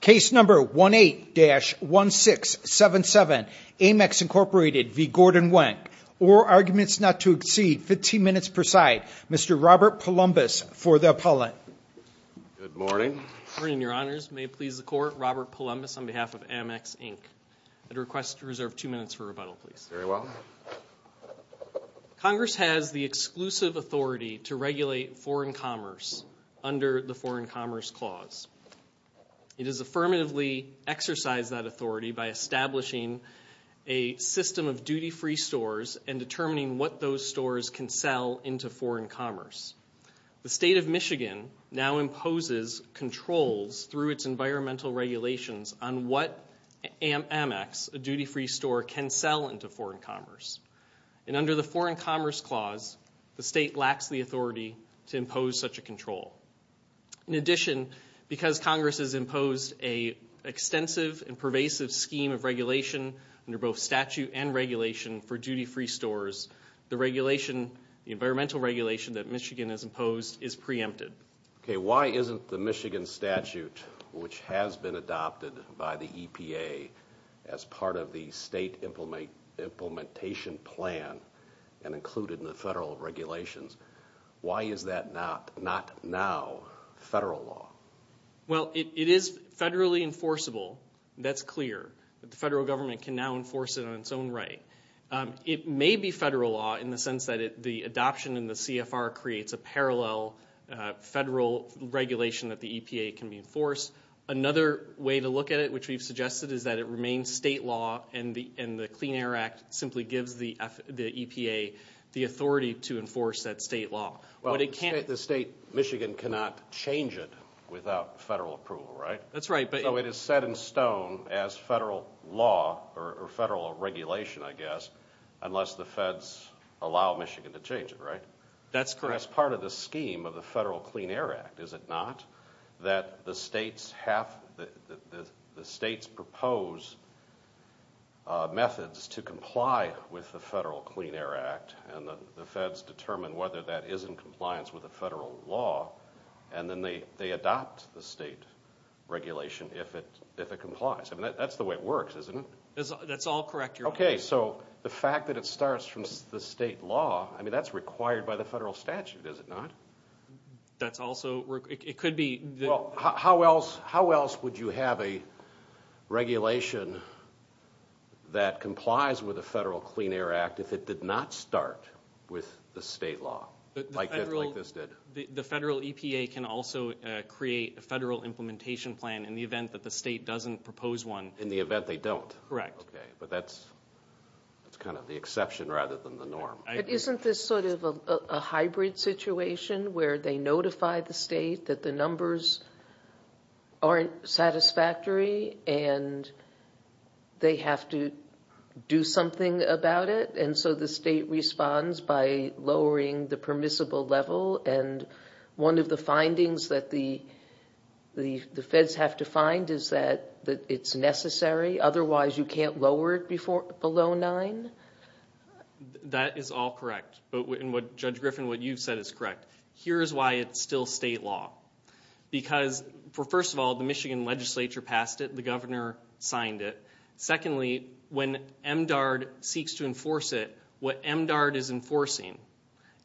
Case number 18-1677, Ammex Inc v. Gordon Wenk. All arguments not to exceed 15 minutes per side. Mr. Robert Poulombis for the appellant. Good morning. Good morning, your honors. May it please the court, Robert Poulombis on behalf of Ammex Inc. I'd request to reserve two minutes for rebuttal, please. Very well. Congress has the exclusive authority to regulate foreign commerce under the Foreign Commerce Clause. It has affirmatively exercised that authority by establishing a system of duty-free stores and determining what those stores can sell into foreign commerce. The state of Michigan now imposes controls through its environmental regulations on what Ammex, a duty-free store, can sell into foreign commerce. And under the Foreign Commerce Clause, the state lacks the authority to impose such a control. In addition, because Congress has imposed an extensive and pervasive scheme of regulation under both statute and regulation for duty-free stores, the environmental regulation that Michigan has imposed is preempted. Okay, why isn't the Michigan statute, which has been adopted by the EPA as part of the state implementation plan and included in the federal regulations, why is that not now federal law? Well, it is federally enforceable. That's clear that the federal government can now enforce it on its own right. It may be federal law in the sense that the adoption in the CFR creates a parallel federal regulation that the EPA can enforce. Another way to look at it, which we've suggested, is that it remains state law and the Clean Air Act simply gives the EPA the authority to enforce that state law. Well, the state of Michigan cannot change it without federal approval, right? That's right. So it is set in stone as federal law or federal regulation, I guess, unless the feds allow Michigan to change it, right? That's correct. That's part of the scheme of the federal Clean Air Act, is it not, that the states propose methods to comply with the federal Clean Air Act and the feds determine whether that is in compliance with the federal law and then they adopt the state regulation if it complies. I mean, that's the way it works, isn't it? That's all correct, Your Honor. Okay, so the fact that it starts from the state law, I mean, that's required by the federal statute, is it not? That's also, it could be. Well, how else would you have a regulation that complies with the federal Clean Air Act if it did not start with the state law like this did? The federal EPA can also create a federal implementation plan in the event that the state doesn't propose one. In the event they don't? Correct. Okay, but that's kind of the exception rather than the norm. But isn't this sort of a hybrid situation where they notify the state that the numbers aren't satisfactory and they have to do something about it and so the state responds by lowering the permissible level and one of the findings that the feds have to find is that it's necessary, otherwise you can't lower it below nine? That is all correct. Judge Griffin, what you've said is correct. Here's why it's still state law. Because, first of all, the Michigan legislature passed it, the governor signed it. Secondly, when MDARD seeks to enforce it, what MDARD is enforcing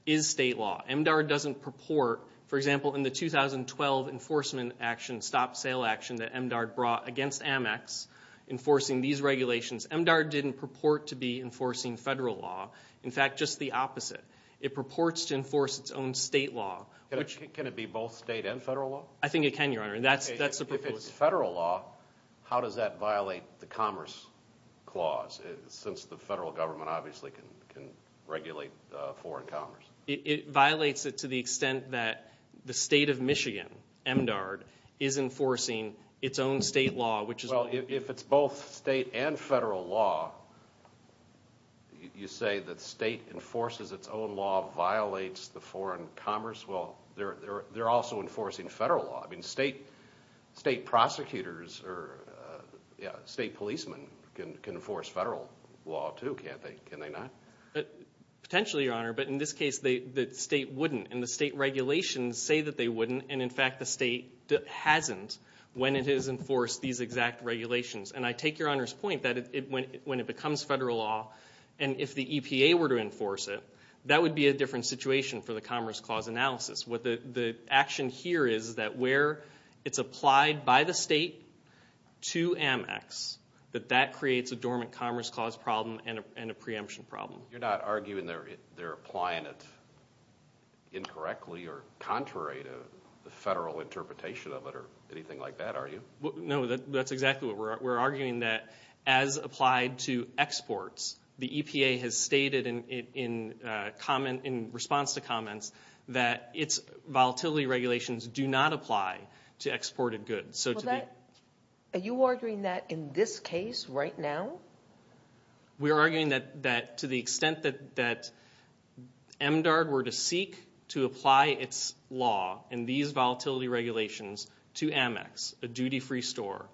is state law. MDARD doesn't purport, for example, in the 2012 enforcement action, stop-sale action that MDARD brought against Amex enforcing these regulations, MDARD didn't purport to be enforcing federal law. In fact, just the opposite. It purports to enforce its own state law. Can it be both state and federal law? I think it can, Your Honor. If it's federal law, how does that violate the Commerce Clause, since the federal government obviously can regulate foreign commerce? It violates it to the extent that the state of Michigan, MDARD, is enforcing its own state law. Well, if it's both state and federal law, you say that state enforces its own law violates the foreign commerce? Well, they're also enforcing federal law. State prosecutors or state policemen can enforce federal law too, can't they? Can they not? Potentially, Your Honor, but in this case the state wouldn't, and the state regulations say that they wouldn't, and in fact the state hasn't when it has enforced these exact regulations. I take Your Honor's point that when it becomes federal law, and if the EPA were to enforce it, that would be a different situation for the Commerce Clause analysis. The action here is that where it's applied by the state to Amex, that that creates a dormant Commerce Clause problem and a preemption problem. You're not arguing they're applying it incorrectly or contrary to the federal interpretation of it or anything like that, are you? No, that's exactly what we're arguing, that as applied to exports, the EPA has stated in response to comments that its volatility regulations do not apply to exported goods. Are you arguing that in this case right now? We're arguing that to the extent that MDARD were to seek to apply its law and these volatility regulations to Amex, a duty-free store,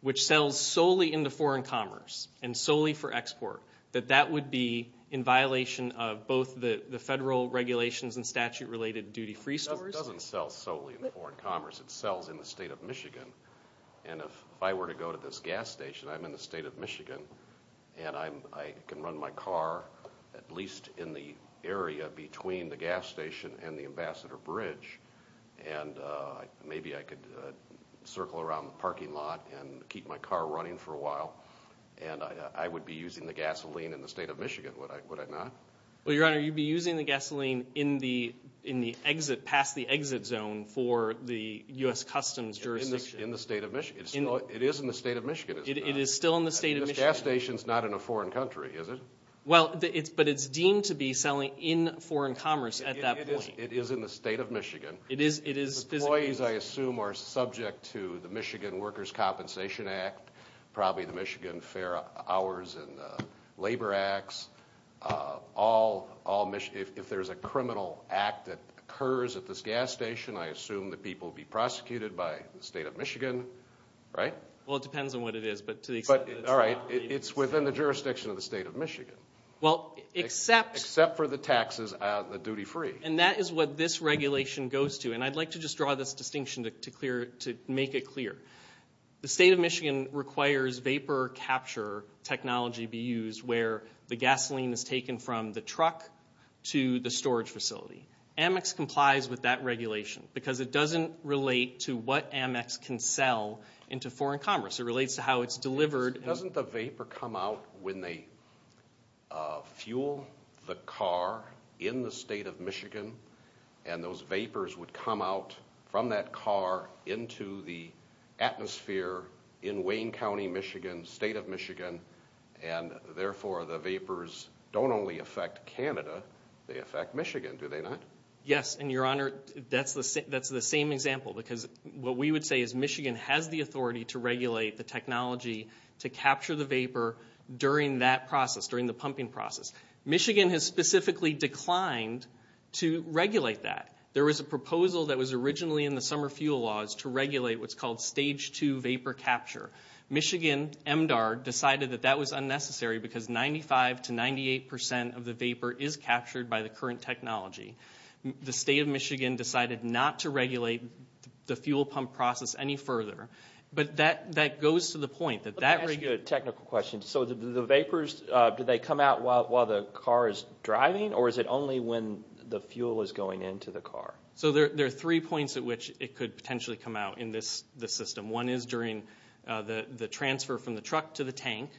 which sells solely into foreign commerce and solely for export, that that would be in violation of both the federal regulations and statute-related duty-free stores? It doesn't sell solely in foreign commerce. It sells in the state of Michigan, and if I were to go to this gas station, I'm in the state of Michigan, and I can run my car at least in the area between the gas station and the Ambassador Bridge, and maybe I could circle around the parking lot and keep my car running for a while, and I would be using the gasoline in the state of Michigan, would I not? Well, Your Honor, you'd be using the gasoline in the exit, past the exit zone for the U.S. Customs jurisdiction. In the state of Michigan? It is in the state of Michigan, is it not? It is still in the state of Michigan. This gas station's not in a foreign country, is it? Well, but it's deemed to be selling in foreign commerce at that point. It is in the state of Michigan. The employees, I assume, are subject to the Michigan Workers' Compensation Act, probably the Michigan Fair Hours and Labor Acts. If there's a criminal act that occurs at this gas station, I assume the people will be prosecuted by the state of Michigan, right? Well, it depends on what it is, but to the extent that it's not, maybe it's fine. All right, it's within the jurisdiction of the state of Michigan. Well, except... Except for the taxes on the duty-free. And that is what this regulation goes to, and I'd like to just draw this distinction to make it clear. The state of Michigan requires vapor capture technology be used where the gasoline is taken from the truck to the storage facility. Amex complies with that regulation because it doesn't relate to what Amex can sell into foreign commerce. It relates to how it's delivered. Doesn't the vapor come out when they fuel the car in the state of Michigan, and those vapors would come out from that car into the atmosphere in Wayne County, Michigan, state of Michigan, and therefore the vapors don't only affect Canada, they affect Michigan, do they not? Yes, and, Your Honor, that's the same example because what we would say is Michigan has the authority to regulate the technology to capture the vapor during that process, during the pumping process. Michigan has specifically declined to regulate that. There was a proposal that was originally in the summer fuel laws to regulate what's called stage 2 vapor capture. Michigan MDAR decided that that was unnecessary because 95% to 98% of the vapor is captured by the current technology. The state of Michigan decided not to regulate the fuel pump process any further, but that goes to the point. Let me ask you a technical question. So the vapors, do they come out while the car is driving, or is it only when the fuel is going into the car? So there are three points at which it could potentially come out in this system. One is during the transfer from the truck to the tank.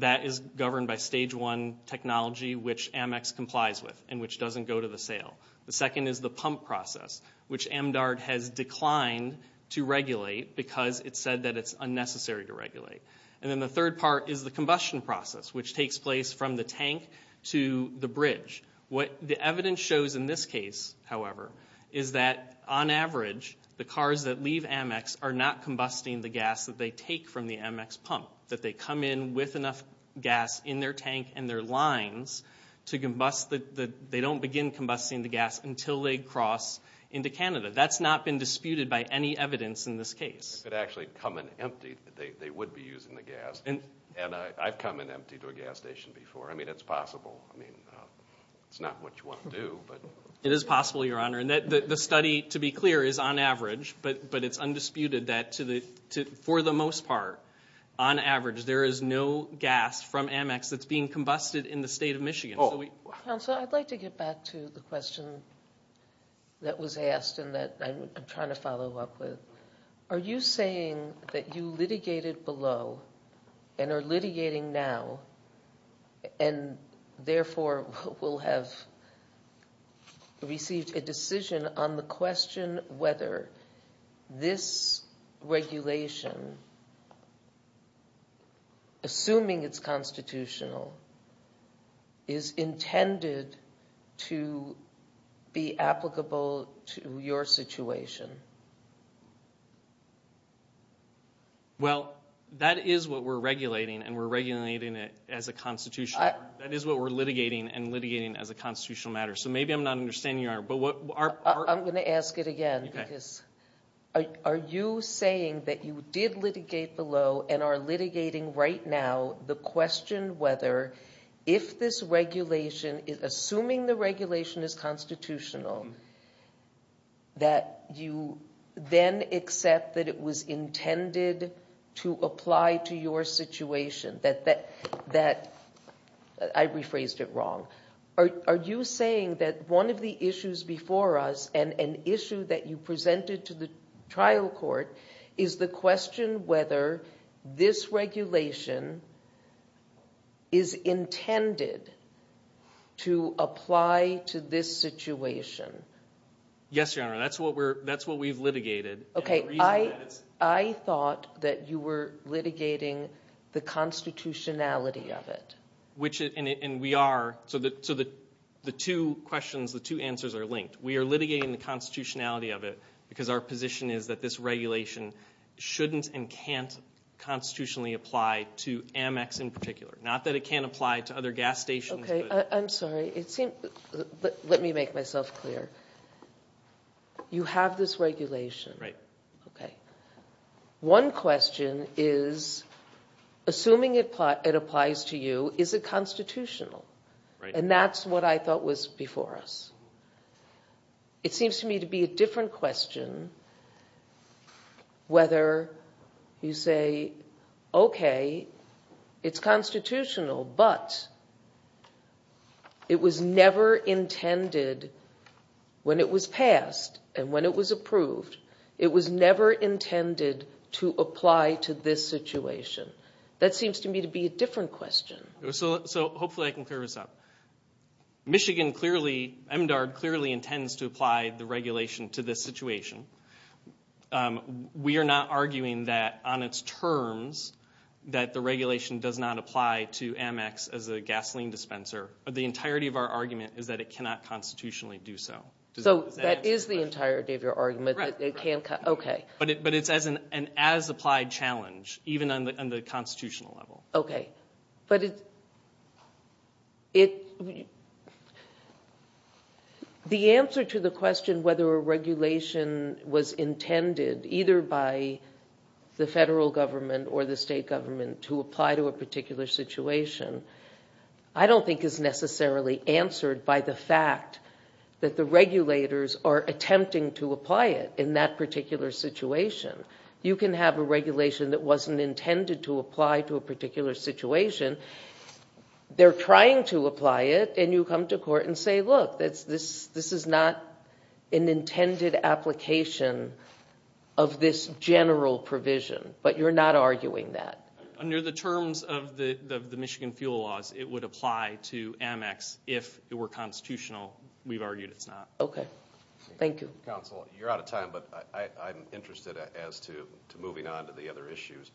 That is governed by stage 1 technology which Amex complies with and which doesn't go to the sale. The second is the pump process, which MDAR has declined to regulate because it said that it's unnecessary to regulate. And then the third part is the combustion process which takes place from the tank to the bridge. What the evidence shows in this case, however, is that on average the cars that leave Amex are not combusting the gas that they take from the Amex pump, that they come in with enough gas in their tank and their lines that they don't begin combusting the gas until they cross into Canada. That's not been disputed by any evidence in this case. If it actually had come in empty, they would be using the gas. And I've come in empty to a gas station before. I mean, it's possible. It's not what you want to do, but... It is possible, Your Honor. The study, to be clear, is on average, but it's undisputed that for the most part, on average, there is no gas from Amex that's being combusted in the state of Michigan. Counsel, I'd like to get back to the question that was asked and that I'm trying to follow up with. Are you saying that you litigated below and are litigating now and therefore will have received a decision on the question whether this regulation, assuming it's constitutional, is intended to be applicable to your situation? Well, that is what we're regulating, and we're regulating it as a constitutional matter. That is what we're litigating and litigating as a constitutional matter. So maybe I'm not understanding, Your Honor. I'm going to ask it again. Are you saying that you did litigate below and are litigating right now the question whether if this regulation, assuming the regulation is constitutional, that you then accept that it was intended to apply to your situation? I rephrased it wrong. Are you saying that one of the issues before us and an issue that you presented to the trial court is the question whether this regulation is intended to apply to this situation? Yes, Your Honor. That's what we've litigated. Okay. I thought that you were litigating the constitutionality of it. So the two questions, the two answers are linked. We are litigating the constitutionality of it because our position is that this regulation shouldn't and can't constitutionally apply to Amex in particular, not that it can't apply to other gas stations. Okay. I'm sorry. Let me make myself clear. You have this regulation. Right. Okay. One question is, assuming it applies to you, is it constitutional? Right. And that's what I thought was before us. It seems to me to be a different question whether you say, okay, it's constitutional, but it was never intended when it was passed and when it was approved, it was never intended to apply to this situation. That seems to me to be a different question. So hopefully I can clear this up. Michigan clearly, MDARD clearly intends to apply the regulation to this situation. We are not arguing that on its terms that the regulation does not apply to Amex as a gasoline dispenser. The entirety of our argument is that it cannot constitutionally do so. So that is the entirety of your argument? Correct. Okay. But it's an as-applied challenge, even on the constitutional level. Okay. But the answer to the question whether a regulation was intended, either by the federal government or the state government, to apply to a particular situation, I don't think is necessarily answered by the fact that the regulators are attempting to apply it in that particular situation. You can have a regulation that wasn't intended to apply to a particular situation. They're trying to apply it, and you come to court and say, look, this is not an intended application of this general provision. But you're not arguing that. Under the terms of the Michigan fuel laws, it would apply to Amex if it were constitutional. We've argued it's not. Okay. Thank you. Counsel, you're out of time, but I'm interested as to moving on to the other issues.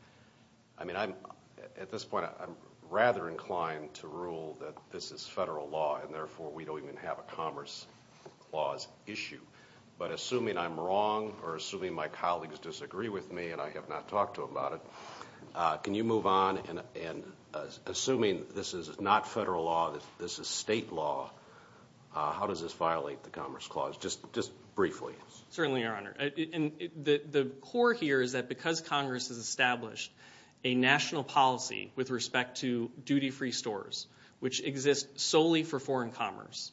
I mean, at this point I'm rather inclined to rule that this is federal law, and therefore we don't even have a Commerce Clause issue. But assuming I'm wrong or assuming my colleagues disagree with me, and I have not talked to them about it, can you move on? And assuming this is not federal law, this is state law, how does this violate the Commerce Clause, just briefly? Certainly, Your Honor. The core here is that because Congress has established a national policy with respect to duty-free stores, which exist solely for foreign commerce,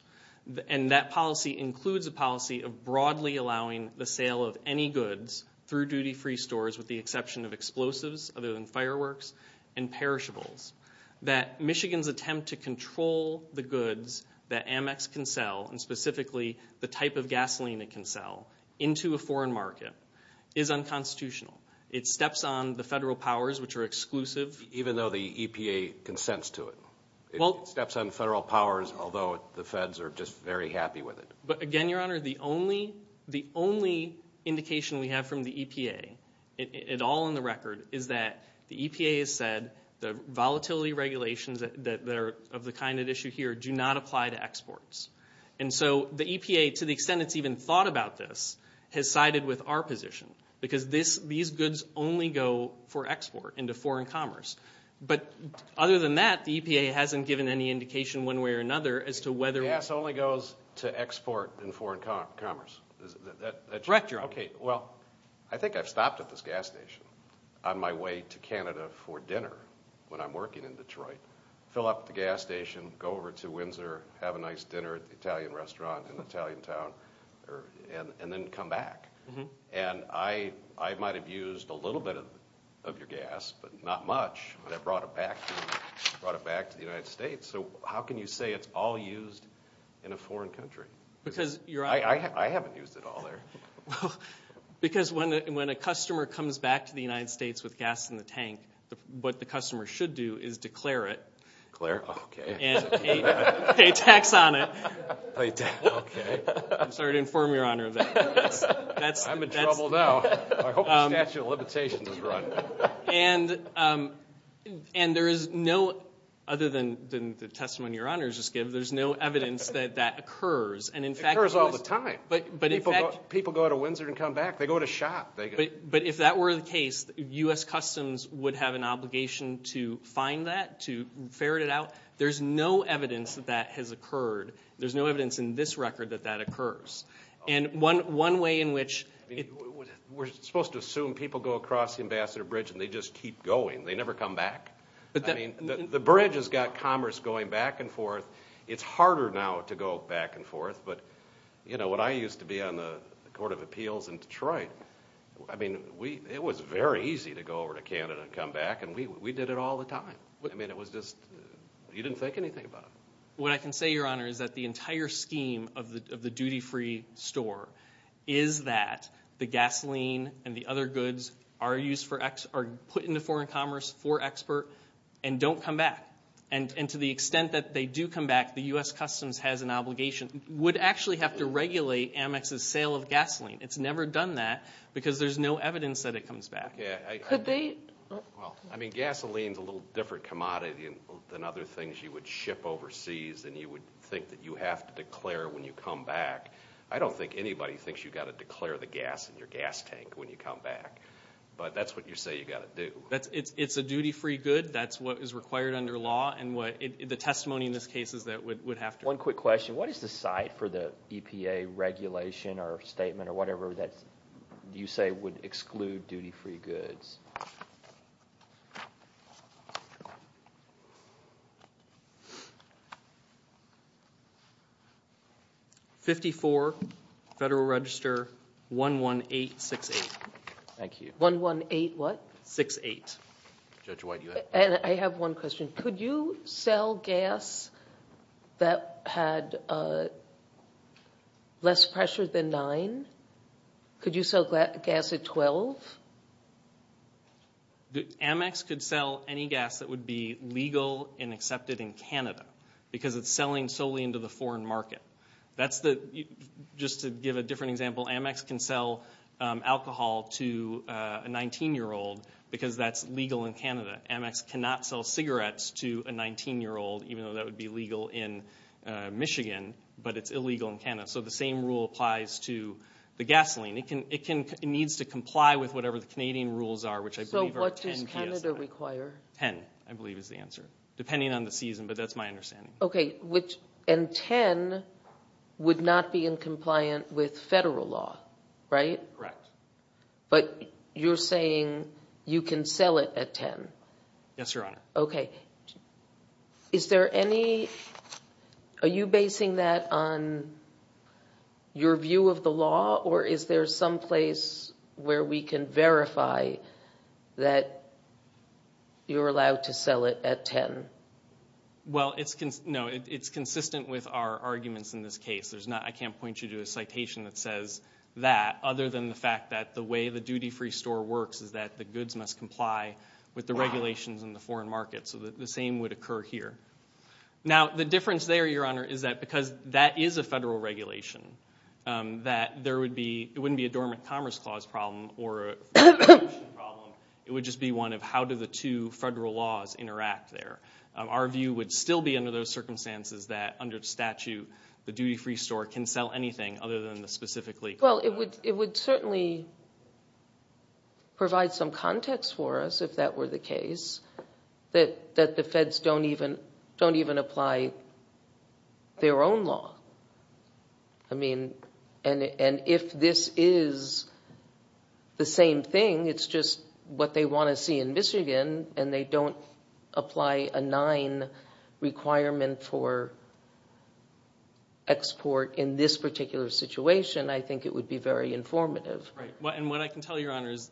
and that policy includes a policy of broadly allowing the sale of any goods through duty-free stores with the exception of explosives, other than fireworks, and perishables, that Michigan's attempt to control the goods that Amex can sell, and specifically the type of gasoline it can sell, into a foreign market is unconstitutional. It steps on the federal powers, which are exclusive. Even though the EPA consents to it? It steps on federal powers, although the feds are just very happy with it. But again, Your Honor, the only indication we have from the EPA, all in the record, is that the EPA has said the volatility regulations that are of the kind at issue here do not apply to exports. And so the EPA, to the extent it's even thought about this, has sided with our position, because these goods only go for export into foreign commerce. But other than that, the EPA hasn't given any indication one way or another as to whether... Gas only goes to export in foreign commerce. Correct, Your Honor. Okay, well, I think I've stopped at this gas station on my way to Canada for dinner when I'm working in Detroit, fill up the gas station, go over to Windsor, have a nice dinner at the Italian restaurant in the Italian town, and then come back. And I might have used a little bit of your gas, but not much, but I brought it back to the United States. So how can you say it's all used in a foreign country? I haven't used it all there. Because when a customer comes back to the United States with gas in the tank, what the customer should do is declare it. Declare it, okay. And pay tax on it. I'm sorry to inform Your Honor of that. I'm in trouble now. I hope the statute of limitations is run. And there is no, other than the testimony Your Honor has just given, there's no evidence that that occurs. It occurs all the time. People go to Windsor and come back. They go to shop. But if that were the case, U.S. Customs would have an obligation to find that, to ferret it out. There's no evidence that that has occurred. There's no evidence in this record that that occurs. And one way in which it... We're supposed to assume people go across the Ambassador Bridge and they just keep going. They never come back. I mean, the bridge has got commerce going back and forth. It's harder now to go back and forth. But, you know, when I used to be on the Court of Appeals in Detroit, I mean, it was very easy to go over to Canada and come back. And we did it all the time. I mean, it was just, you didn't think anything about it. What I can say, Your Honor, is that the entire scheme of the duty-free store is that the gasoline and the other goods are put into foreign commerce for export and don't come back. And to the extent that they do come back, the U.S. Customs has an obligation, would actually have to regulate Amex's sale of gasoline. It's never done that because there's no evidence that it comes back. Could they? Well, I mean, gasoline's a little different commodity than other things you would ship overseas and you would think that you have to declare when you come back. I don't think anybody thinks you've got to declare the gas in your gas tank when you come back. But that's what you say you've got to do. It's a duty-free good. That's what is required under law. And the testimony in this case is that it would have to. One quick question. What is the site for the EPA regulation or statement or whatever that you say would exclude duty-free goods? 54 Federal Register 11868. Thank you. 118 what? 6-8. Judge White, do you have a question? I have one question. Could you sell gas that had less pressure than 9? Could you sell gas at 12? Amex could sell any gas that would be legal and accepted in Canada because it's selling solely into the foreign market. Just to give a different example, Amex can sell alcohol to a 19-year-old because that's legal in Canada. Amex cannot sell cigarettes to a 19-year-old, even though that would be legal in Michigan, but it's illegal in Canada. So the same rule applies to the gasoline. It needs to comply with whatever the Canadian rules are, which I believe are 10 PSA. So what does Canada require? Ten, I believe is the answer, depending on the season, but that's my understanding. Okay. And 10 would not be in compliant with federal law, right? Correct. But you're saying you can sell it at 10? Yes, Your Honor. Okay. Are you basing that on your view of the law or is there some place where we can verify that you're allowed to sell it at 10? Well, no, it's consistent with our arguments in this case. I can't point you to a citation that says that, other than the fact that the way the duty-free store works is that the goods must comply with the regulations in the foreign market. So the same would occur here. Now, the difference there, Your Honor, is that because that is a federal regulation, that it wouldn't be a Dormant Commerce Clause problem or a regulation problem. It would just be one of how do the two federal laws interact there. Our view would still be under those circumstances that, under statute, the duty-free store can sell anything other than the specifically- Well, it would certainly provide some context for us, if that were the case, that the feds don't even apply their own law. I mean, and if this is the same thing, it's just what they want to see in Michigan, and they don't apply a nine requirement for export in this particular situation, I think it would be very informative. Right. And what I can tell you, Your Honor, is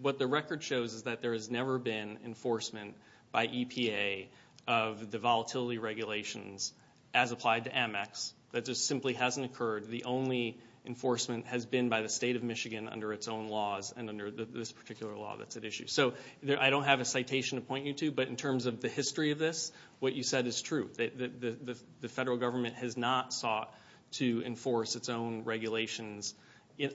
what the record shows is that there has never been enforcement by EPA of the volatility regulations as applied to Amex. That just simply hasn't occurred. The only enforcement has been by the State of Michigan under its own laws and under this particular law that's at issue. So I don't have a citation to point you to, but in terms of the history of this, what you said is true. The federal government has not sought to enforce its own regulations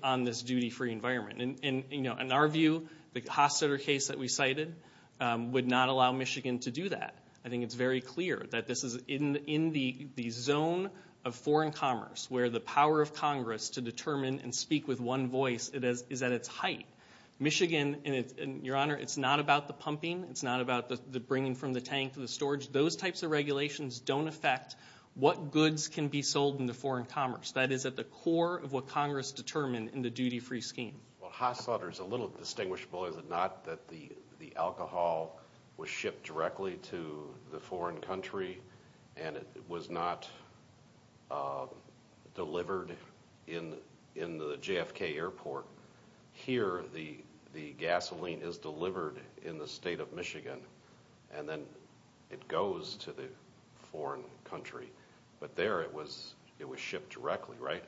on this duty-free environment. In our view, the Hofstadter case that we cited would not allow Michigan to do that. I think it's very clear that this is in the zone of foreign commerce where the power of Congress to determine and speak with one voice is at its height. Michigan, Your Honor, it's not about the pumping, it's not about the bringing from the tank to the storage. Those types of regulations don't affect what goods can be sold into foreign commerce. That is at the core of what Congress determined in the duty-free scheme. Hofstadter is a little distinguishable, is it not, that the alcohol was shipped directly to the foreign country and it was not delivered in the JFK Airport. Here, the gasoline is delivered in the State of Michigan and then it goes to the foreign country. But there, it was shipped directly, right?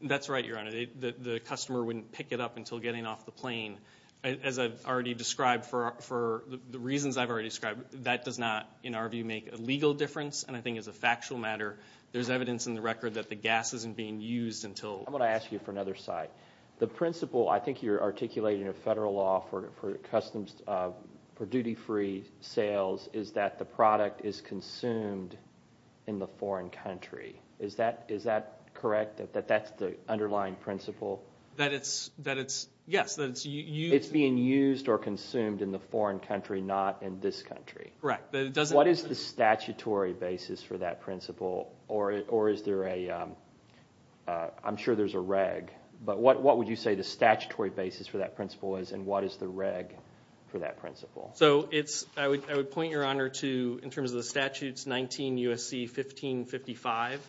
That's right, Your Honor. The customer wouldn't pick it up until getting off the plane. As I've already described, for the reasons I've already described, that does not, in our view, make a legal difference, and I think as a factual matter, there's evidence in the record that the gas isn't being used until... I'm going to ask you for another side. The principle, I think you're articulating, in a federal law for duty-free sales is that the product is consumed in the foreign country. Is that correct, that that's the underlying principle? That it's, yes, that it's used... It's being used or consumed in the foreign country, not in this country. Correct. What is the statutory basis for that principle, or is there a, I'm sure there's a reg, but what would you say the statutory basis for that principle is and what is the reg for that principle? I would point your honor to, in terms of the statutes, 19 U.S.C. 1555.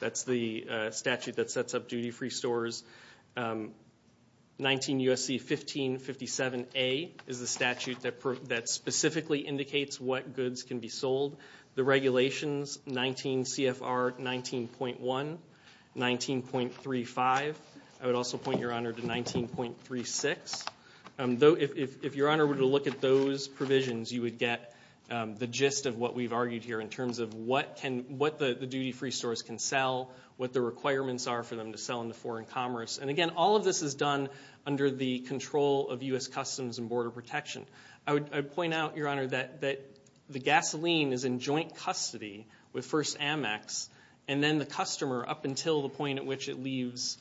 That's the statute that sets up duty-free stores. 19 U.S.C. 1557A is the statute that specifically indicates what goods can be sold. The regulations, 19 C.F.R. 19.1, 19.35. I would also point your honor to 19.36. If your honor were to look at those provisions, you would get the gist of what we've argued here in terms of what the duty-free stores can sell, what the requirements are for them to sell in the foreign commerce. And again, all of this is done under the control of U.S. Customs and Border Protection. I would point out, your honor, that the gasoline is in joint custody with First Amex and then the customer up until the point at which it leaves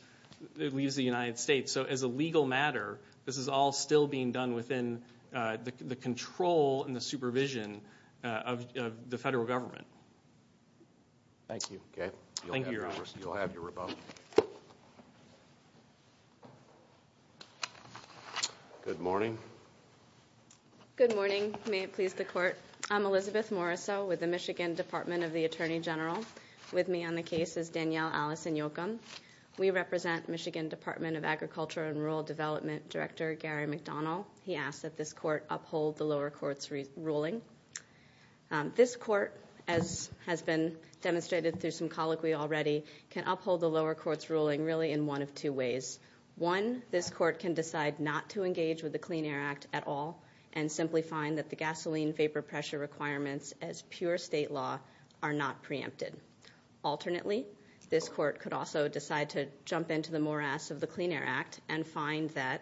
the United States. So as a legal matter, this is all still being done within the control and the supervision of the federal government. Thank you. Okay. Thank you, your honor. You'll have your rebuttal. Good morning. Good morning. May it please the court. I'm Elizabeth Morisot with the Michigan Department of the Attorney General. With me on the case is Danielle Allison-Yocum. We represent Michigan Department of Agriculture and Rural Development Director Gary McDonald. He asked that this court uphold the lower court's ruling. This court, as has been demonstrated through some colloquy already, can uphold the lower court's ruling really in one of two ways. One, this court can decide not to engage with the Clean Air Act at all and simply find that the gasoline vapor pressure requirements as pure state law are not preempted. Alternately, this court could also decide to jump into the morass of the Clean Air Act and find that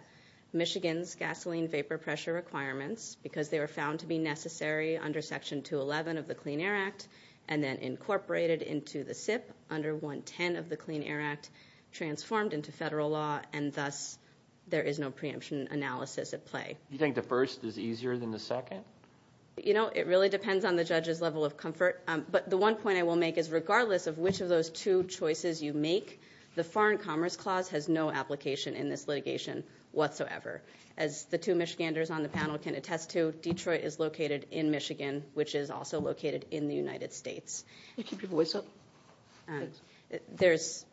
Michigan's gasoline vapor pressure requirements, because they were found to be necessary under Section 211 of the Clean Air Act and then incorporated into the SIP under 110 of the Clean Air Act, transformed into federal law and thus there is no preemption analysis at play. You think the first is easier than the second? You know, it really depends on the judge's level of comfort. But the one point I will make is regardless of which of those two choices you make, the Foreign Commerce Clause has no application in this litigation whatsoever. As the two Michiganders on the panel can attest to, Detroit is located in Michigan, which is also located in the United States. Can you keep your voice up? There's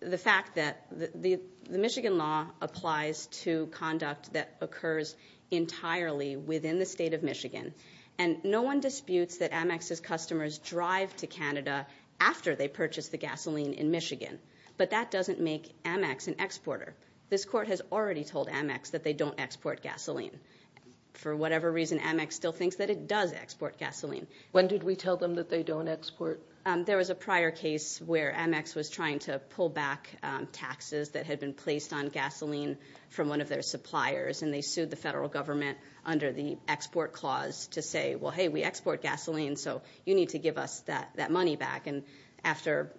the fact that the Michigan law applies to conduct that occurs entirely within the state of Michigan. And no one disputes that Amex's customers drive to Canada after they purchase the gasoline in Michigan. But that doesn't make Amex an exporter. This court has already told Amex that they don't export gasoline. For whatever reason, Amex still thinks that it does export gasoline. When did we tell them that they don't export? There was a prior case where Amex was trying to pull back taxes that had been placed on gasoline from one of their suppliers and they sued the federal government under the export clause to say, well, hey, we export gasoline, so you need to give us that money back. And after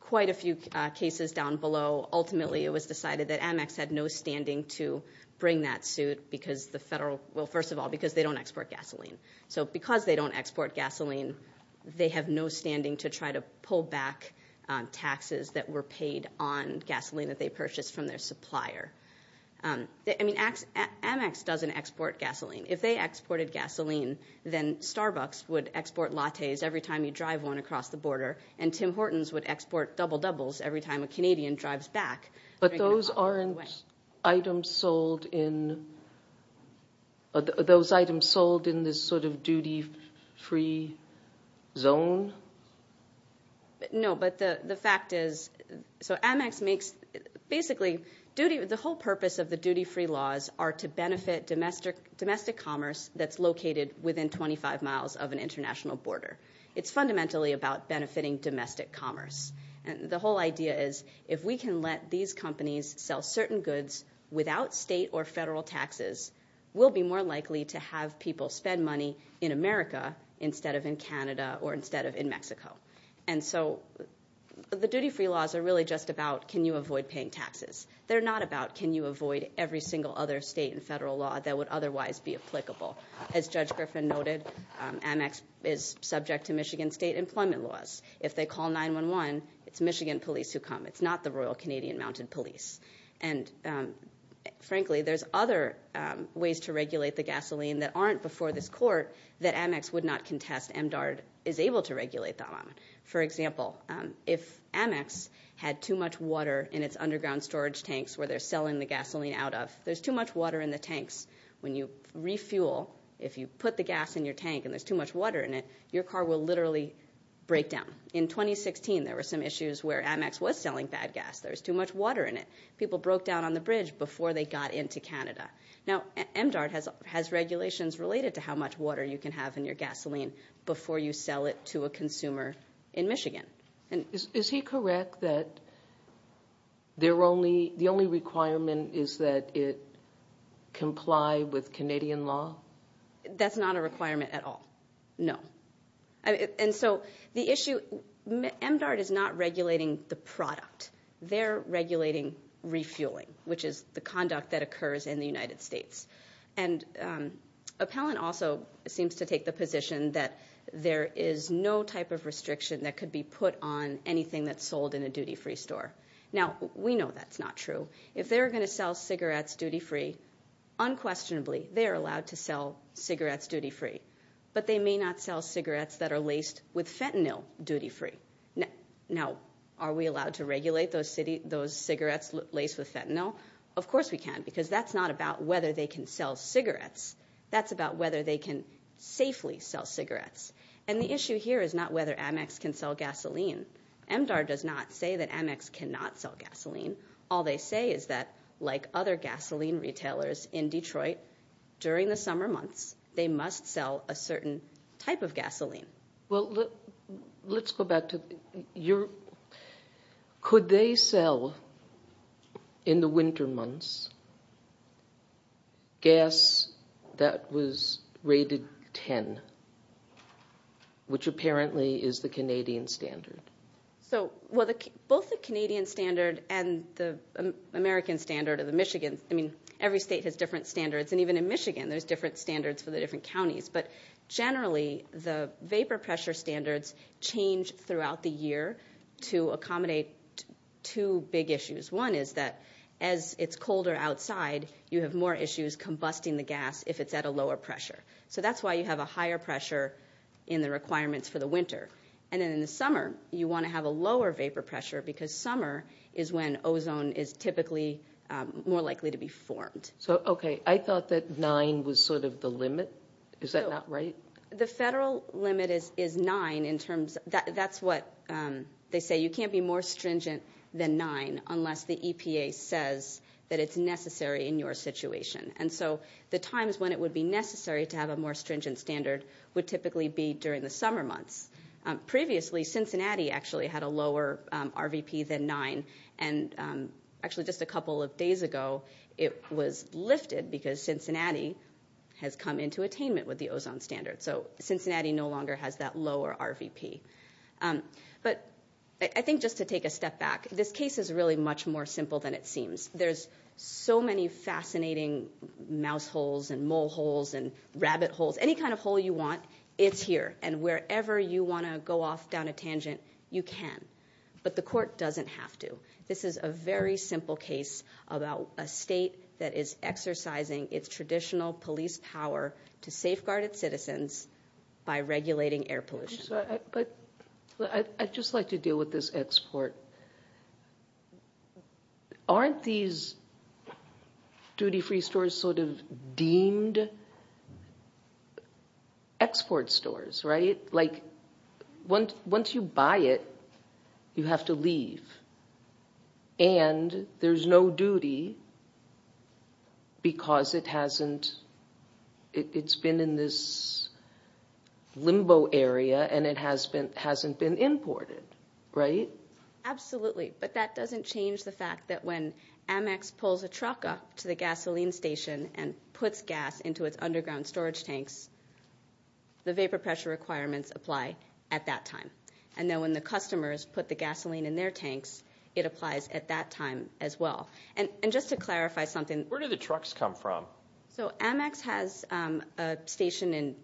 quite a few cases down below, ultimately it was decided that Amex had no standing to bring that suit because the federal – well, first of all, because they don't export gasoline. So because they don't export gasoline, they have no standing to try to pull back taxes that were paid on gasoline that they purchased from their supplier. I mean, Amex doesn't export gasoline. If they exported gasoline, then Starbucks would export lattes every time you drive one across the border, and Tim Hortons would export Double Doubles every time a Canadian drives back. But those aren't items sold in – those items sold in this sort of duty-free zone? No, but the fact is – so Amex makes – the whole purpose of the duty-free laws are to benefit domestic commerce that's located within 25 miles of an international border. It's fundamentally about benefiting domestic commerce. The whole idea is if we can let these companies sell certain goods without state or federal taxes, we'll be more likely to have people spend money in America instead of in Canada or instead of in Mexico. And so the duty-free laws are really just about can you avoid paying taxes. They're not about can you avoid every single other state and federal law that would otherwise be applicable. As Judge Griffin noted, Amex is subject to Michigan state employment laws. If they call 911, it's Michigan police who come. It's not the Royal Canadian Mounted Police. And frankly, there's other ways to regulate the gasoline that aren't before this court that Amex would not contest. MDARD is able to regulate them. For example, if Amex had too much water in its underground storage tanks where they're selling the gasoline out of, there's too much water in the tanks. When you refuel, if you put the gas in your tank and there's too much water in it, your car will literally break down. In 2016, there were some issues where Amex was selling bad gas. There was too much water in it. People broke down on the bridge before they got into Canada. Now, MDARD has regulations related to how much water you can have in your gasoline before you sell it to a consumer in Michigan. Is he correct that the only requirement is that it comply with Canadian law? That's not a requirement at all, no. And so the issue, MDARD is not regulating the product. They're regulating refueling, which is the conduct that occurs in the United States. Appellant also seems to take the position that there is no type of restriction that could be put on anything that's sold in a duty-free store. Now, we know that's not true. If they're going to sell cigarettes duty-free, unquestionably they're allowed to sell cigarettes duty-free. But they may not sell cigarettes that are laced with fentanyl duty-free. Now, are we allowed to regulate those cigarettes laced with fentanyl? Of course we can, because that's not about whether they can sell cigarettes. That's about whether they can safely sell cigarettes. And the issue here is not whether Amex can sell gasoline. MDARD does not say that Amex cannot sell gasoline. All they say is that, like other gasoline retailers in Detroit, during the summer months they must sell a certain type of gasoline. Well, let's go back to Europe. Could they sell, in the winter months, gas that was rated 10, which apparently is the Canadian standard? Well, both the Canadian standard and the American standard or the Michigan, I mean, every state has different standards, and even in Michigan there's different standards for the different counties. But generally the vapor pressure standards change throughout the year to accommodate two big issues. One is that as it's colder outside, you have more issues combusting the gas if it's at a lower pressure. So that's why you have a higher pressure in the requirements for the winter. And then in the summer you want to have a lower vapor pressure, because summer is when ozone is typically more likely to be formed. So, okay, I thought that nine was sort of the limit. Is that not right? The federal limit is nine in terms of that's what they say. You can't be more stringent than nine unless the EPA says that it's necessary in your situation. And so the times when it would be necessary to have a more stringent standard would typically be during the summer months. Previously Cincinnati actually had a lower RVP than nine, and actually just a couple of days ago it was lifted because Cincinnati has come into attainment with the ozone standard. So Cincinnati no longer has that lower RVP. But I think just to take a step back, this case is really much more simple than it seems. There's so many fascinating mouse holes and mole holes and rabbit holes. Any kind of hole you want, it's here. And wherever you want to go off down a tangent, you can. But the court doesn't have to. This is a very simple case about a state that is exercising its traditional police power to safeguard its citizens by regulating air pollution. I'd just like to deal with this export. Aren't these duty-free stores sort of deemed export stores, right? Like once you buy it, you have to leave. And there's no duty because it's been in this limbo area and it hasn't been imported, right? Absolutely. But that doesn't change the fact that when Amex pulls a truck up to the gasoline station and puts gas into its underground storage tanks, the vapor pressure requirements apply at that time. And then when the customers put the gasoline in their tanks, it applies at that time as well. And just to clarify something. Where do the trucks come from? So Amex has a station in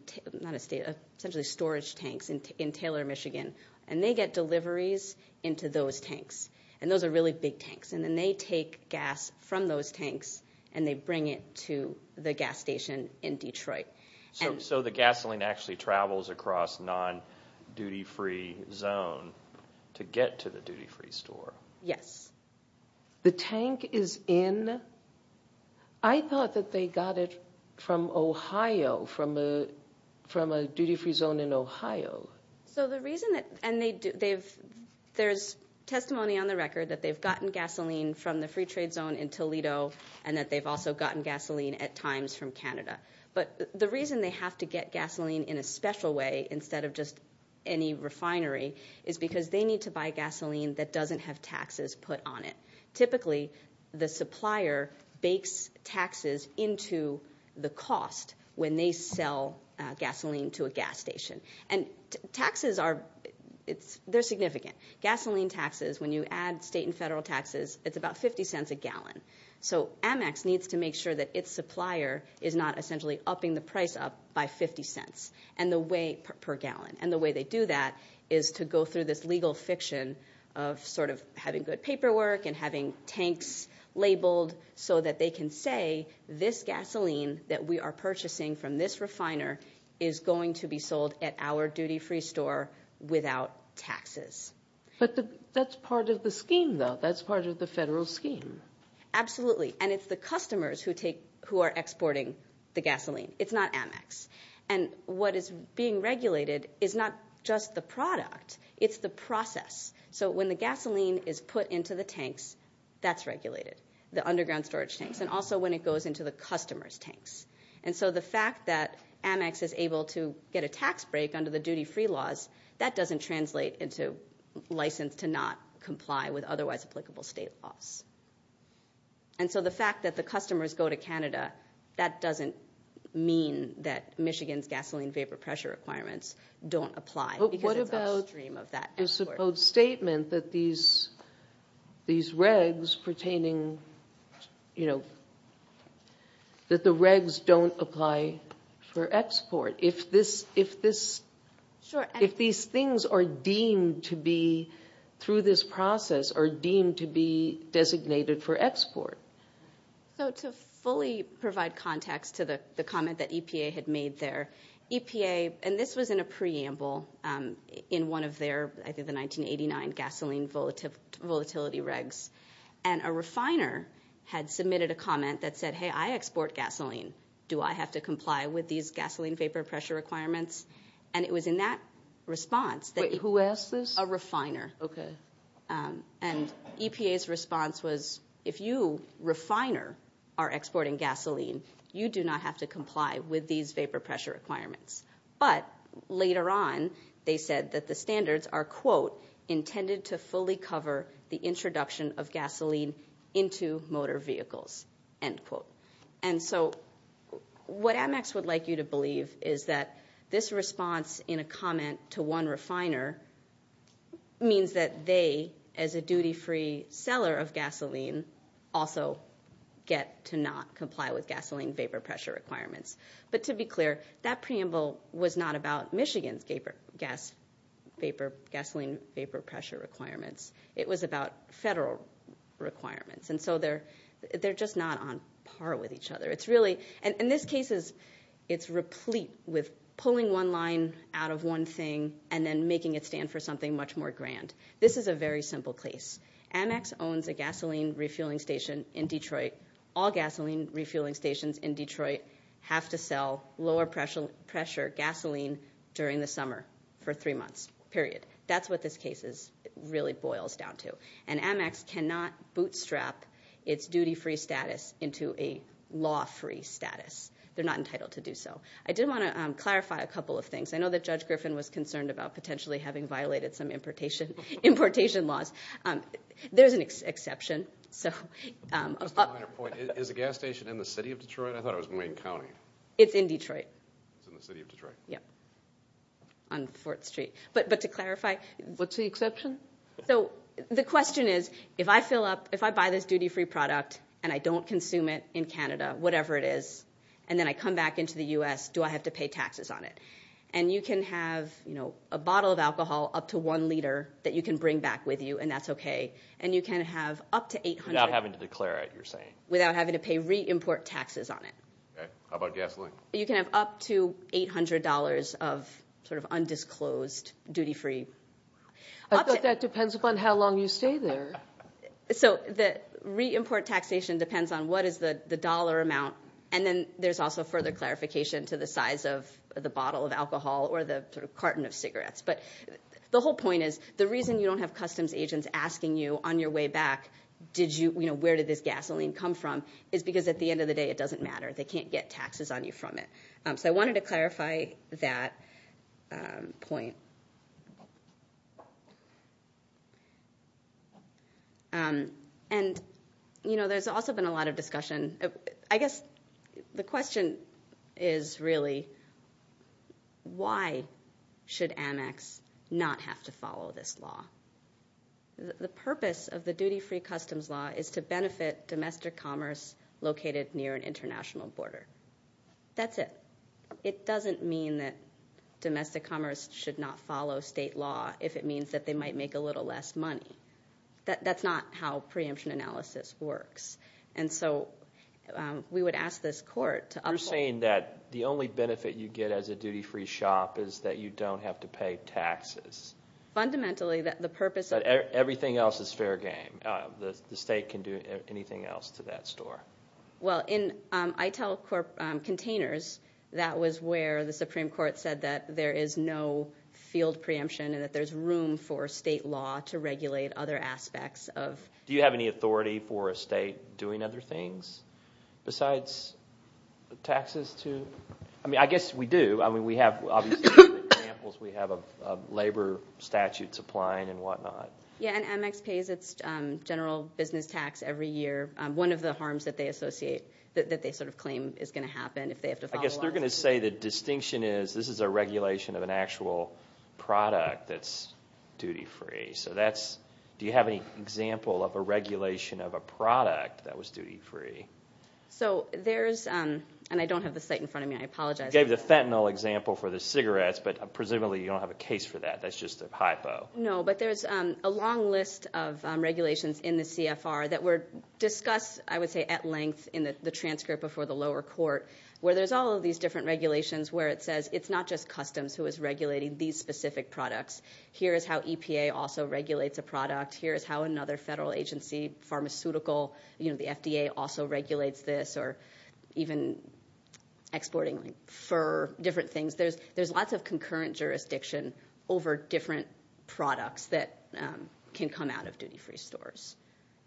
essentially storage tanks in Taylor, Michigan, and they get deliveries into those tanks. And those are really big tanks. And then they take gas from those tanks and they bring it to the gas station in Detroit. So the gasoline actually travels across non-duty-free zone to get to the duty-free store. Yes. The tank is in – I thought that they got it from Ohio, from a duty-free zone in Ohio. So the reason that – and there's testimony on the record that they've gotten gasoline from the free trade zone in Toledo and that they've also gotten gasoline at times from Canada. But the reason they have to get gasoline in a special way instead of just any refinery is because they need to buy gasoline that doesn't have taxes put on it. Typically, the supplier bakes taxes into the cost when they sell gasoline to a gas station. And taxes are – they're significant. Gasoline taxes, when you add state and federal taxes, it's about 50 cents a gallon. So Amex needs to make sure that its supplier is not essentially upping the price up by 50 cents per gallon. And the way they do that is to go through this legal fiction of sort of having good paperwork and having tanks labeled so that they can say this gasoline that we are purchasing from this refiner is going to be sold at our duty-free store without taxes. But that's part of the scheme, though. That's part of the federal scheme. Absolutely. And it's the customers who are exporting the gasoline. It's not Amex. And what is being regulated is not just the product. It's the process. So when the gasoline is put into the tanks, that's regulated, the underground storage tanks, and also when it goes into the customers' tanks. And so the fact that Amex is able to get a tax break under the duty-free laws, that doesn't translate into license to not comply with otherwise applicable state laws. And so the fact that the customers go to Canada, that doesn't mean that Michigan's gasoline vapor pressure requirements don't apply because it's upstream of that export. But what about the supposed statement that these regs pertaining, you know, that the regs don't apply for export? If these things are deemed to be, through this process, are deemed to be designated for export? So to fully provide context to the comment that EPA had made there, EPA, and this was in a preamble in one of their, I think, the 1989 gasoline volatility regs, and a refiner had submitted a comment that said, Hey, I export gasoline. Do I have to comply with these gasoline vapor pressure requirements? And it was in that response that you could- Wait, who asked this? A refiner. Okay. And EPA's response was, if you, refiner, are exporting gasoline, you do not have to comply with these vapor pressure requirements. But later on, they said that the standards are, quote, And so what Amex would like you to believe is that this response in a comment to one refiner means that they, as a duty-free seller of gasoline, also get to not comply with gasoline vapor pressure requirements. But to be clear, that preamble was not about Michigan's gasoline vapor pressure requirements. It was about federal requirements. And so they're just not on par with each other. It's really- And this case is replete with pulling one line out of one thing and then making it stand for something much more grand. This is a very simple case. Amex owns a gasoline refueling station in Detroit. All gasoline refueling stations in Detroit have to sell lower pressure gasoline during the summer for three months, period. That's what this case really boils down to. And Amex cannot bootstrap its duty-free status into a law-free status. They're not entitled to do so. I did want to clarify a couple of things. I know that Judge Griffin was concerned about potentially having violated some importation laws. There's an exception. Just a minor point. Is the gas station in the city of Detroit? I thought it was in Wayne County. It's in Detroit. It's in the city of Detroit. Yeah, on 4th Street. But to clarify- What's the exception? The question is, if I fill up, if I buy this duty-free product and I don't consume it in Canada, whatever it is, and then I come back into the U.S., do I have to pay taxes on it? And you can have a bottle of alcohol up to one liter that you can bring back with you, and that's okay. And you can have up to 800- Without having to declare it, you're saying? Without having to pay re-import taxes on it. Okay. How about gasoline? You can have up to $800 of sort of undisclosed duty-free- That depends upon how long you stay there. So the re-import taxation depends on what is the dollar amount, and then there's also further clarification to the size of the bottle of alcohol or the carton of cigarettes. But the whole point is the reason you don't have customs agents asking you on your way back, where did this gasoline come from, is because at the end of the day it doesn't matter. They can't get taxes on you from it. So I wanted to clarify that point. And, you know, there's also been a lot of discussion. I guess the question is really, why should Amex not have to follow this law? The purpose of the duty-free customs law is to benefit domestic commerce located near an international border. That's it. It doesn't mean that domestic commerce should not follow state law if it means that they might make a little less money. That's not how preemption analysis works. And so we would ask this court to uphold- You're saying that the only benefit you get as a duty-free shop is that you don't have to pay taxes. Fundamentally, the purpose of- Everything else is fair game. The state can do anything else to that store. Well, in ITEL containers, that was where the Supreme Court said that there is no field preemption and that there's room for state law to regulate other aspects of- Do you have any authority for a state doing other things besides taxes to- I mean, I guess we do. I mean, we have obviously examples. We have a labor statute supplying and whatnot. Yeah, and Amex pays its general business tax every year. One of the harms that they associate, that they sort of claim is going to happen if they have to follow a law. I guess they're going to say the distinction is this is a regulation of an actual product that's duty-free. So that's- Do you have any example of a regulation of a product that was duty-free? So there's- And I don't have the site in front of me. I apologize. You gave the fentanyl example for the cigarettes, but presumably you don't have a case for that. That's just a hypo. No, but there's a long list of regulations in the CFR that were discussed, I would say, at length in the transcript before the lower court, where there's all of these different regulations where it says it's not just Customs who is regulating these specific products. Here is how EPA also regulates a product. Here is how another federal agency, pharmaceutical, the FDA also regulates this, or even exporting fur, different things. There's lots of concurrent jurisdiction over different products that can come out of duty-free stores.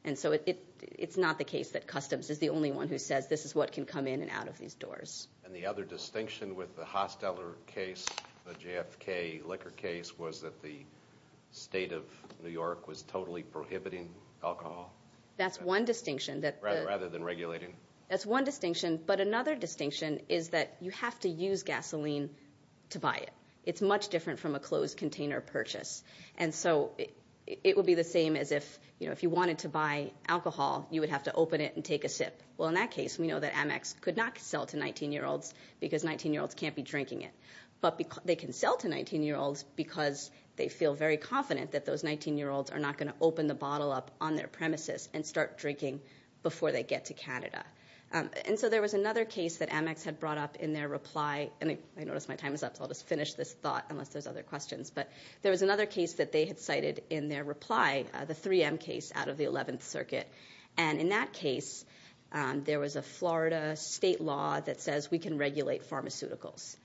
And so it's not the case that Customs is the only one who says this is what can come in and out of these doors. And the other distinction with the Hosteller case, the JFK liquor case, was that the state of New York was totally prohibiting alcohol? That's one distinction. Rather than regulating. That's one distinction. But another distinction is that you have to use gasoline to buy it. It's much different from a closed-container purchase. And so it would be the same as if you wanted to buy alcohol, you would have to open it and take a sip. Well, in that case, we know that Amex could not sell to 19-year-olds because 19-year-olds can't be drinking it. But they can sell to 19-year-olds because they feel very confident that those 19-year-olds are not going to open the bottle up on their premises and start drinking before they get to Canada. And so there was another case that Amex had brought up in their reply. And I notice my time is up, so I'll just finish this thought unless there's other questions. But there was another case that they had cited in their reply, the 3M case out of the 11th Circuit. And in that case, there was a Florida state law that says we can regulate pharmaceuticals.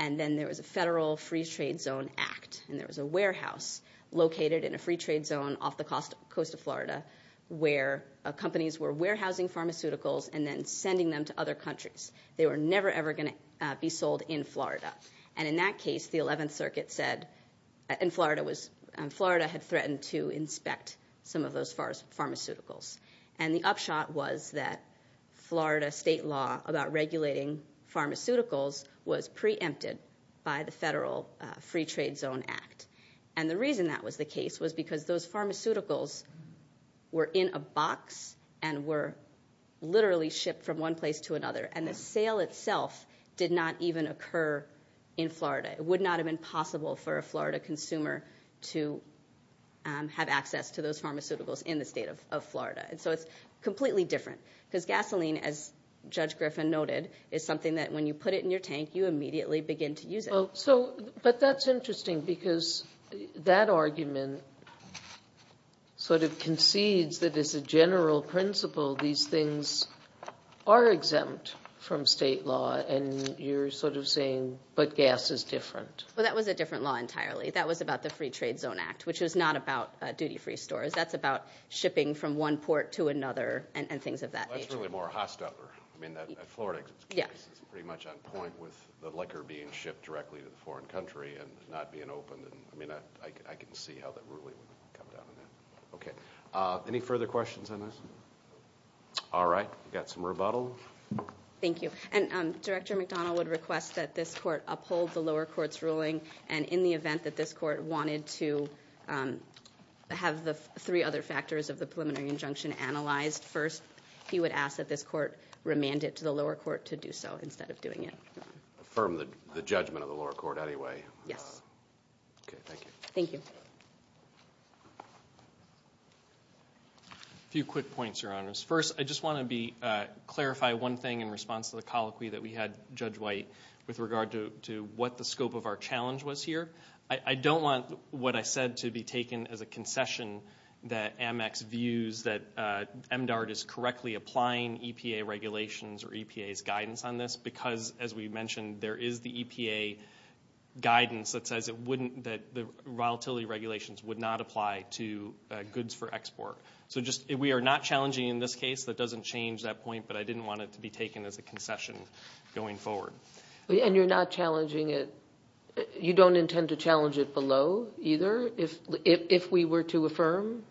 And then there was a Federal Free Trade Zone Act, and there was a warehouse located in a free trade zone off the coast of Florida where companies were warehousing pharmaceuticals and then sending them to other countries. They were never, ever going to be sold in Florida. And in that case, the 11th Circuit said, and Florida had threatened to inspect some of those pharmaceuticals. And the upshot was that Florida state law about regulating pharmaceuticals was preempted by the Federal Free Trade Zone Act. And the reason that was the case was because those pharmaceuticals were in a box and were literally shipped from one place to another, and the sale itself did not even occur in Florida. It would not have been possible for a Florida consumer to have access to those pharmaceuticals in the state of Florida. And so it's completely different. Because gasoline, as Judge Griffin noted, is something that when you put it in your tank, you immediately begin to use it. But that's interesting because that argument sort of concedes that as a general principle, these things are exempt from state law, and you're sort of saying, but gas is different. Well, that was a different law entirely. That was about the Free Trade Zone Act, which was not about duty-free stores. That's about shipping from one port to another and things of that nature. Well, that's really more hostile. I mean, that Florida case is pretty much on point with the liquor being shipped directly to the foreign country and not being opened. I mean, I can see how that really would come down to that. Okay, any further questions on this? All right, we've got some rebuttal. Thank you. And Director McDonald would request that this court uphold the lower court's ruling, and in the event that this court wanted to have the three other factors of the preliminary injunction analyzed first, he would ask that this court remand it to the lower court to do so instead of doing it. Affirm the judgment of the lower court anyway. Yes. Okay, thank you. Thank you. A few quick points, Your Honors. First, I just want to clarify one thing in response to the colloquy that we had, Judge White, with regard to what the scope of our challenge was here. I don't want what I said to be taken as a concession that Amex views that MDARD is correctly applying EPA regulations or EPA's guidance on this because, as we mentioned, there is the EPA guidance that says the volatility regulations would not apply to goods for export. So we are not challenging in this case. That doesn't change that point, but I didn't want it to be taken as a concession going forward. And you're not challenging it. You don't intend to challenge it below either if we were to affirm?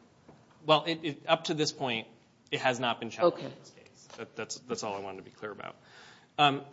Well, up to this point, it has not been challenged in this case. That's all I wanted to be clear about.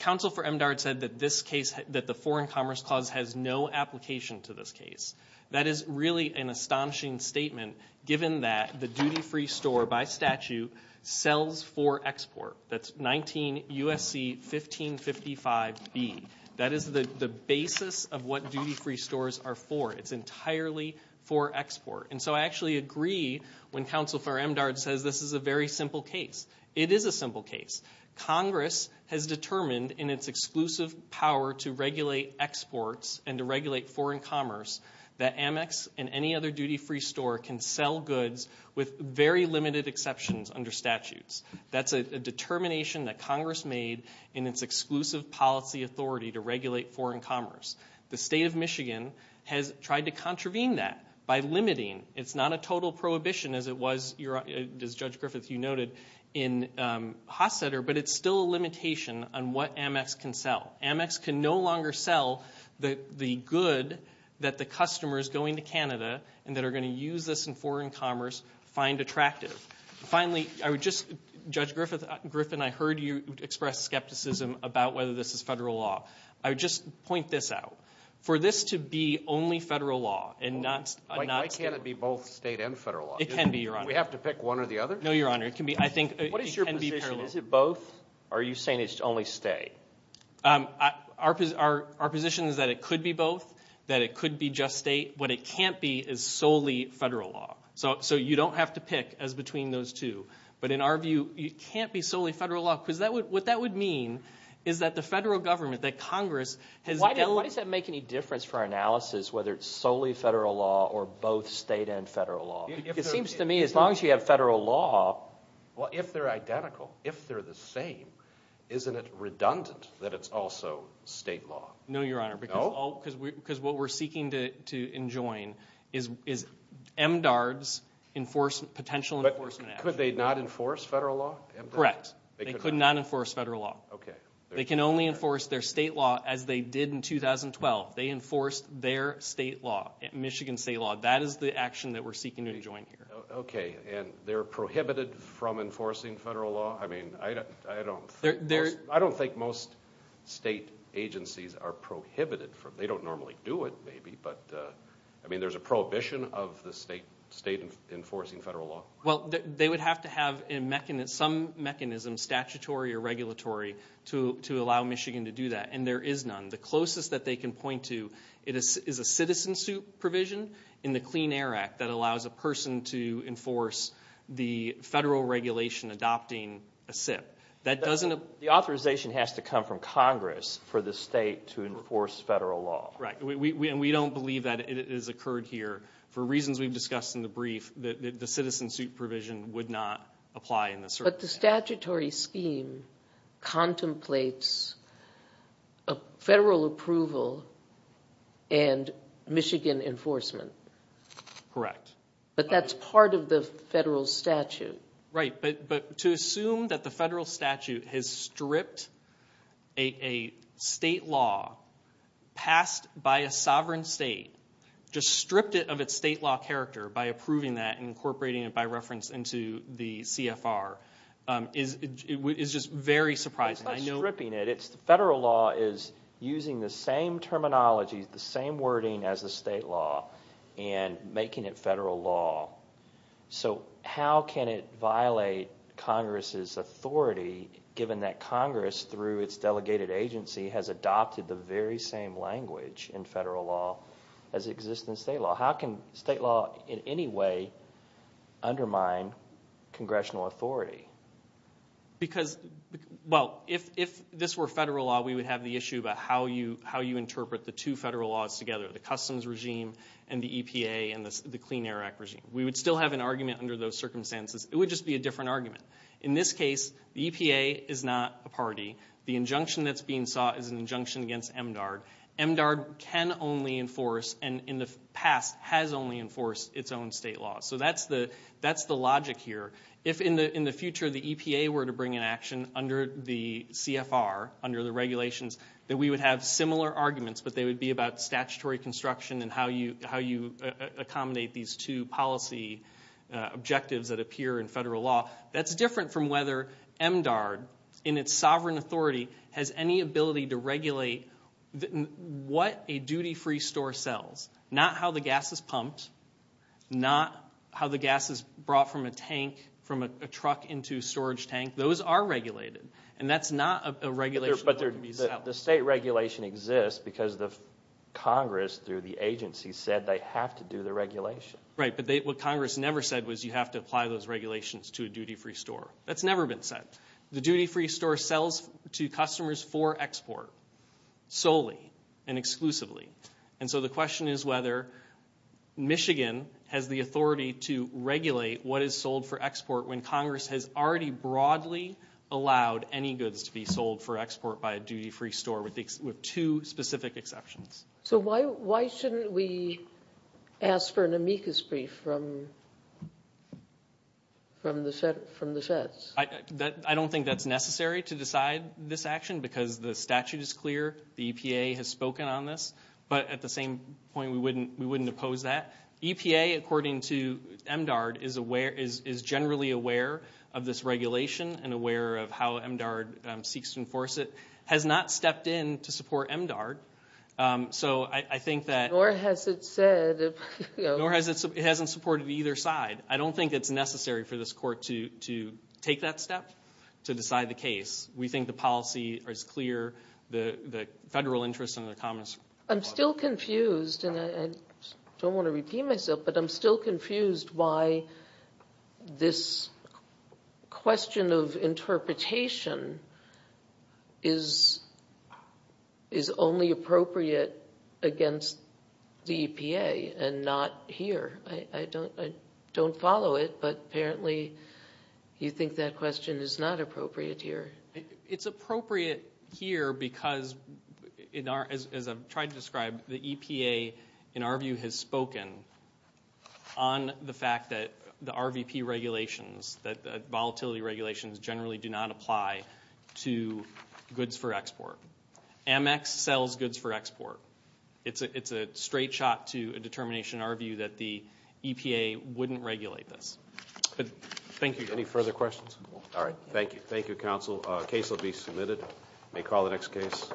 Counsel for MDARD said that this case, that the Foreign Commerce Clause has no application to this case. That is really an astonishing statement, given that the duty-free store, by statute, sells for export. That's 19 U.S.C. 1555B. That is the basis of what duty-free stores are for. It's entirely for export. And so I actually agree when Counsel for MDARD says this is a very simple case. It is a simple case. Congress has determined in its exclusive power to regulate exports and to regulate foreign commerce, that Amex and any other duty-free store can sell goods with very limited exceptions under statutes. That's a determination that Congress made in its exclusive policy authority to regulate foreign commerce. The State of Michigan has tried to contravene that by limiting. It's not a total prohibition as it was, as Judge Griffith, you noted, in Hossetter, but it's still a limitation on what Amex can sell. Amex can no longer sell the good that the customers going to Canada and that are going to use this in foreign commerce find attractive. Finally, Judge Griffith, I heard you express skepticism about whether this is federal law. I would just point this out. For this to be only federal law and not state law. Why can't it be both state and federal law? It can be, Your Honor. Do we have to pick one or the other? No, Your Honor. What is your position? Is it both, or are you saying it's only state? Our position is that it could be both, that it could be just state. What it can't be is solely federal law. So you don't have to pick as between those two. But in our view, it can't be solely federal law, because what that would mean is that the federal government, that Congress has done... Why does that make any difference for our analysis, whether it's solely federal law or both state and federal law? It seems to me as long as you have federal law... Well, if they're identical, if they're the same, isn't it redundant that it's also state law? No, Your Honor. No? Because what we're seeking to enjoin is MDARD's potential enforcement action. But could they not enforce federal law? Correct. They could not enforce federal law. Okay. They can only enforce their state law as they did in 2012. They enforced their state law, Michigan state law. That is the action that we're seeking to enjoin here. Okay. And they're prohibited from enforcing federal law? I mean, I don't think most state agencies are prohibited from... They don't normally do it, maybe, but... I mean, there's a prohibition of the state enforcing federal law? Well, they would have to have some mechanism, statutory or regulatory, to allow Michigan to do that, and there is none. The closest that they can point to is a citizen-suit provision in the Clean Air Act that allows a person to enforce the federal regulation adopting a SIP. The authorization has to come from Congress for the state to enforce federal law. Right. And we don't believe that it has occurred here. For reasons we've discussed in the brief, the citizen-suit provision would not apply in this circumstance. But the statutory scheme contemplates federal approval and Michigan enforcement. Correct. But that's part of the federal statute. Right. But to assume that the federal statute has stripped a state law passed by a sovereign state, just stripped it of its state law character by approving that and incorporating it by reference into the CFR, is just very surprising. It's not stripping it. Federal law is using the same terminology, the same wording as the state law, and making it federal law. So how can it violate Congress's authority, given that Congress, through its delegated agency, has adopted the very same language in federal law as exists in state law? How can state law in any way undermine congressional authority? Because, well, if this were federal law, we would have the issue about how you interpret the two federal laws together, the customs regime and the EPA and the Clean Air Act regime. We would still have an argument under those circumstances. It would just be a different argument. In this case, the EPA is not a party. The injunction that's being sought is an injunction against MDARD. MDARD can only enforce, and in the past has only enforced, its own state law. So that's the logic here. If in the future the EPA were to bring an action under the CFR, under the regulations, that we would have similar arguments, but they would be about statutory construction and how you accommodate these two policy objectives that appear in federal law, that's different from whether MDARD, in its sovereign authority, has any ability to regulate what a duty-free store sells, not how the gas is pumped, not how the gas is brought from a tank, from a truck into a storage tank. Those are regulated. And that's not a regulation that would be set up. But the state regulation exists because the Congress, through the agency, said they have to do the regulation. Right, but what Congress never said was you have to apply those regulations to a duty-free store. That's never been said. The duty-free store sells to customers for export solely and exclusively. And so the question is whether Michigan has the authority to regulate what is sold for export when Congress has already broadly allowed any goods to be sold for export by a duty-free store with two specific exceptions. So why shouldn't we ask for an amicus brief from the SETS? I don't think that's necessary to decide this action because the statute is clear, the EPA has spoken on this, but at the same point we wouldn't oppose that. EPA, according to MDARD, is generally aware of this regulation and aware of how MDARD seeks to enforce it, has not stepped in to support MDARD. So I think that... Nor has it said... Nor has it supported either side. I don't think it's necessary for this court to take that step to decide the case. We think the policy is clear, the federal interest and the Congress... I'm still confused, and I don't want to repeat myself, but I'm still confused why this question of interpretation is only appropriate against the EPA and not here. I don't follow it, but apparently you think that question is not appropriate here. It's appropriate here because, as I've tried to describe, the EPA, in our view, has spoken on the fact that the RVP regulations, that volatility regulations generally do not apply to goods for export. Amex sells goods for export. It's a straight shot to a determination in our view that the EPA wouldn't regulate this. Thank you. Any further questions? All right. Thank you. Thank you, counsel. Case will be submitted. May call the next case.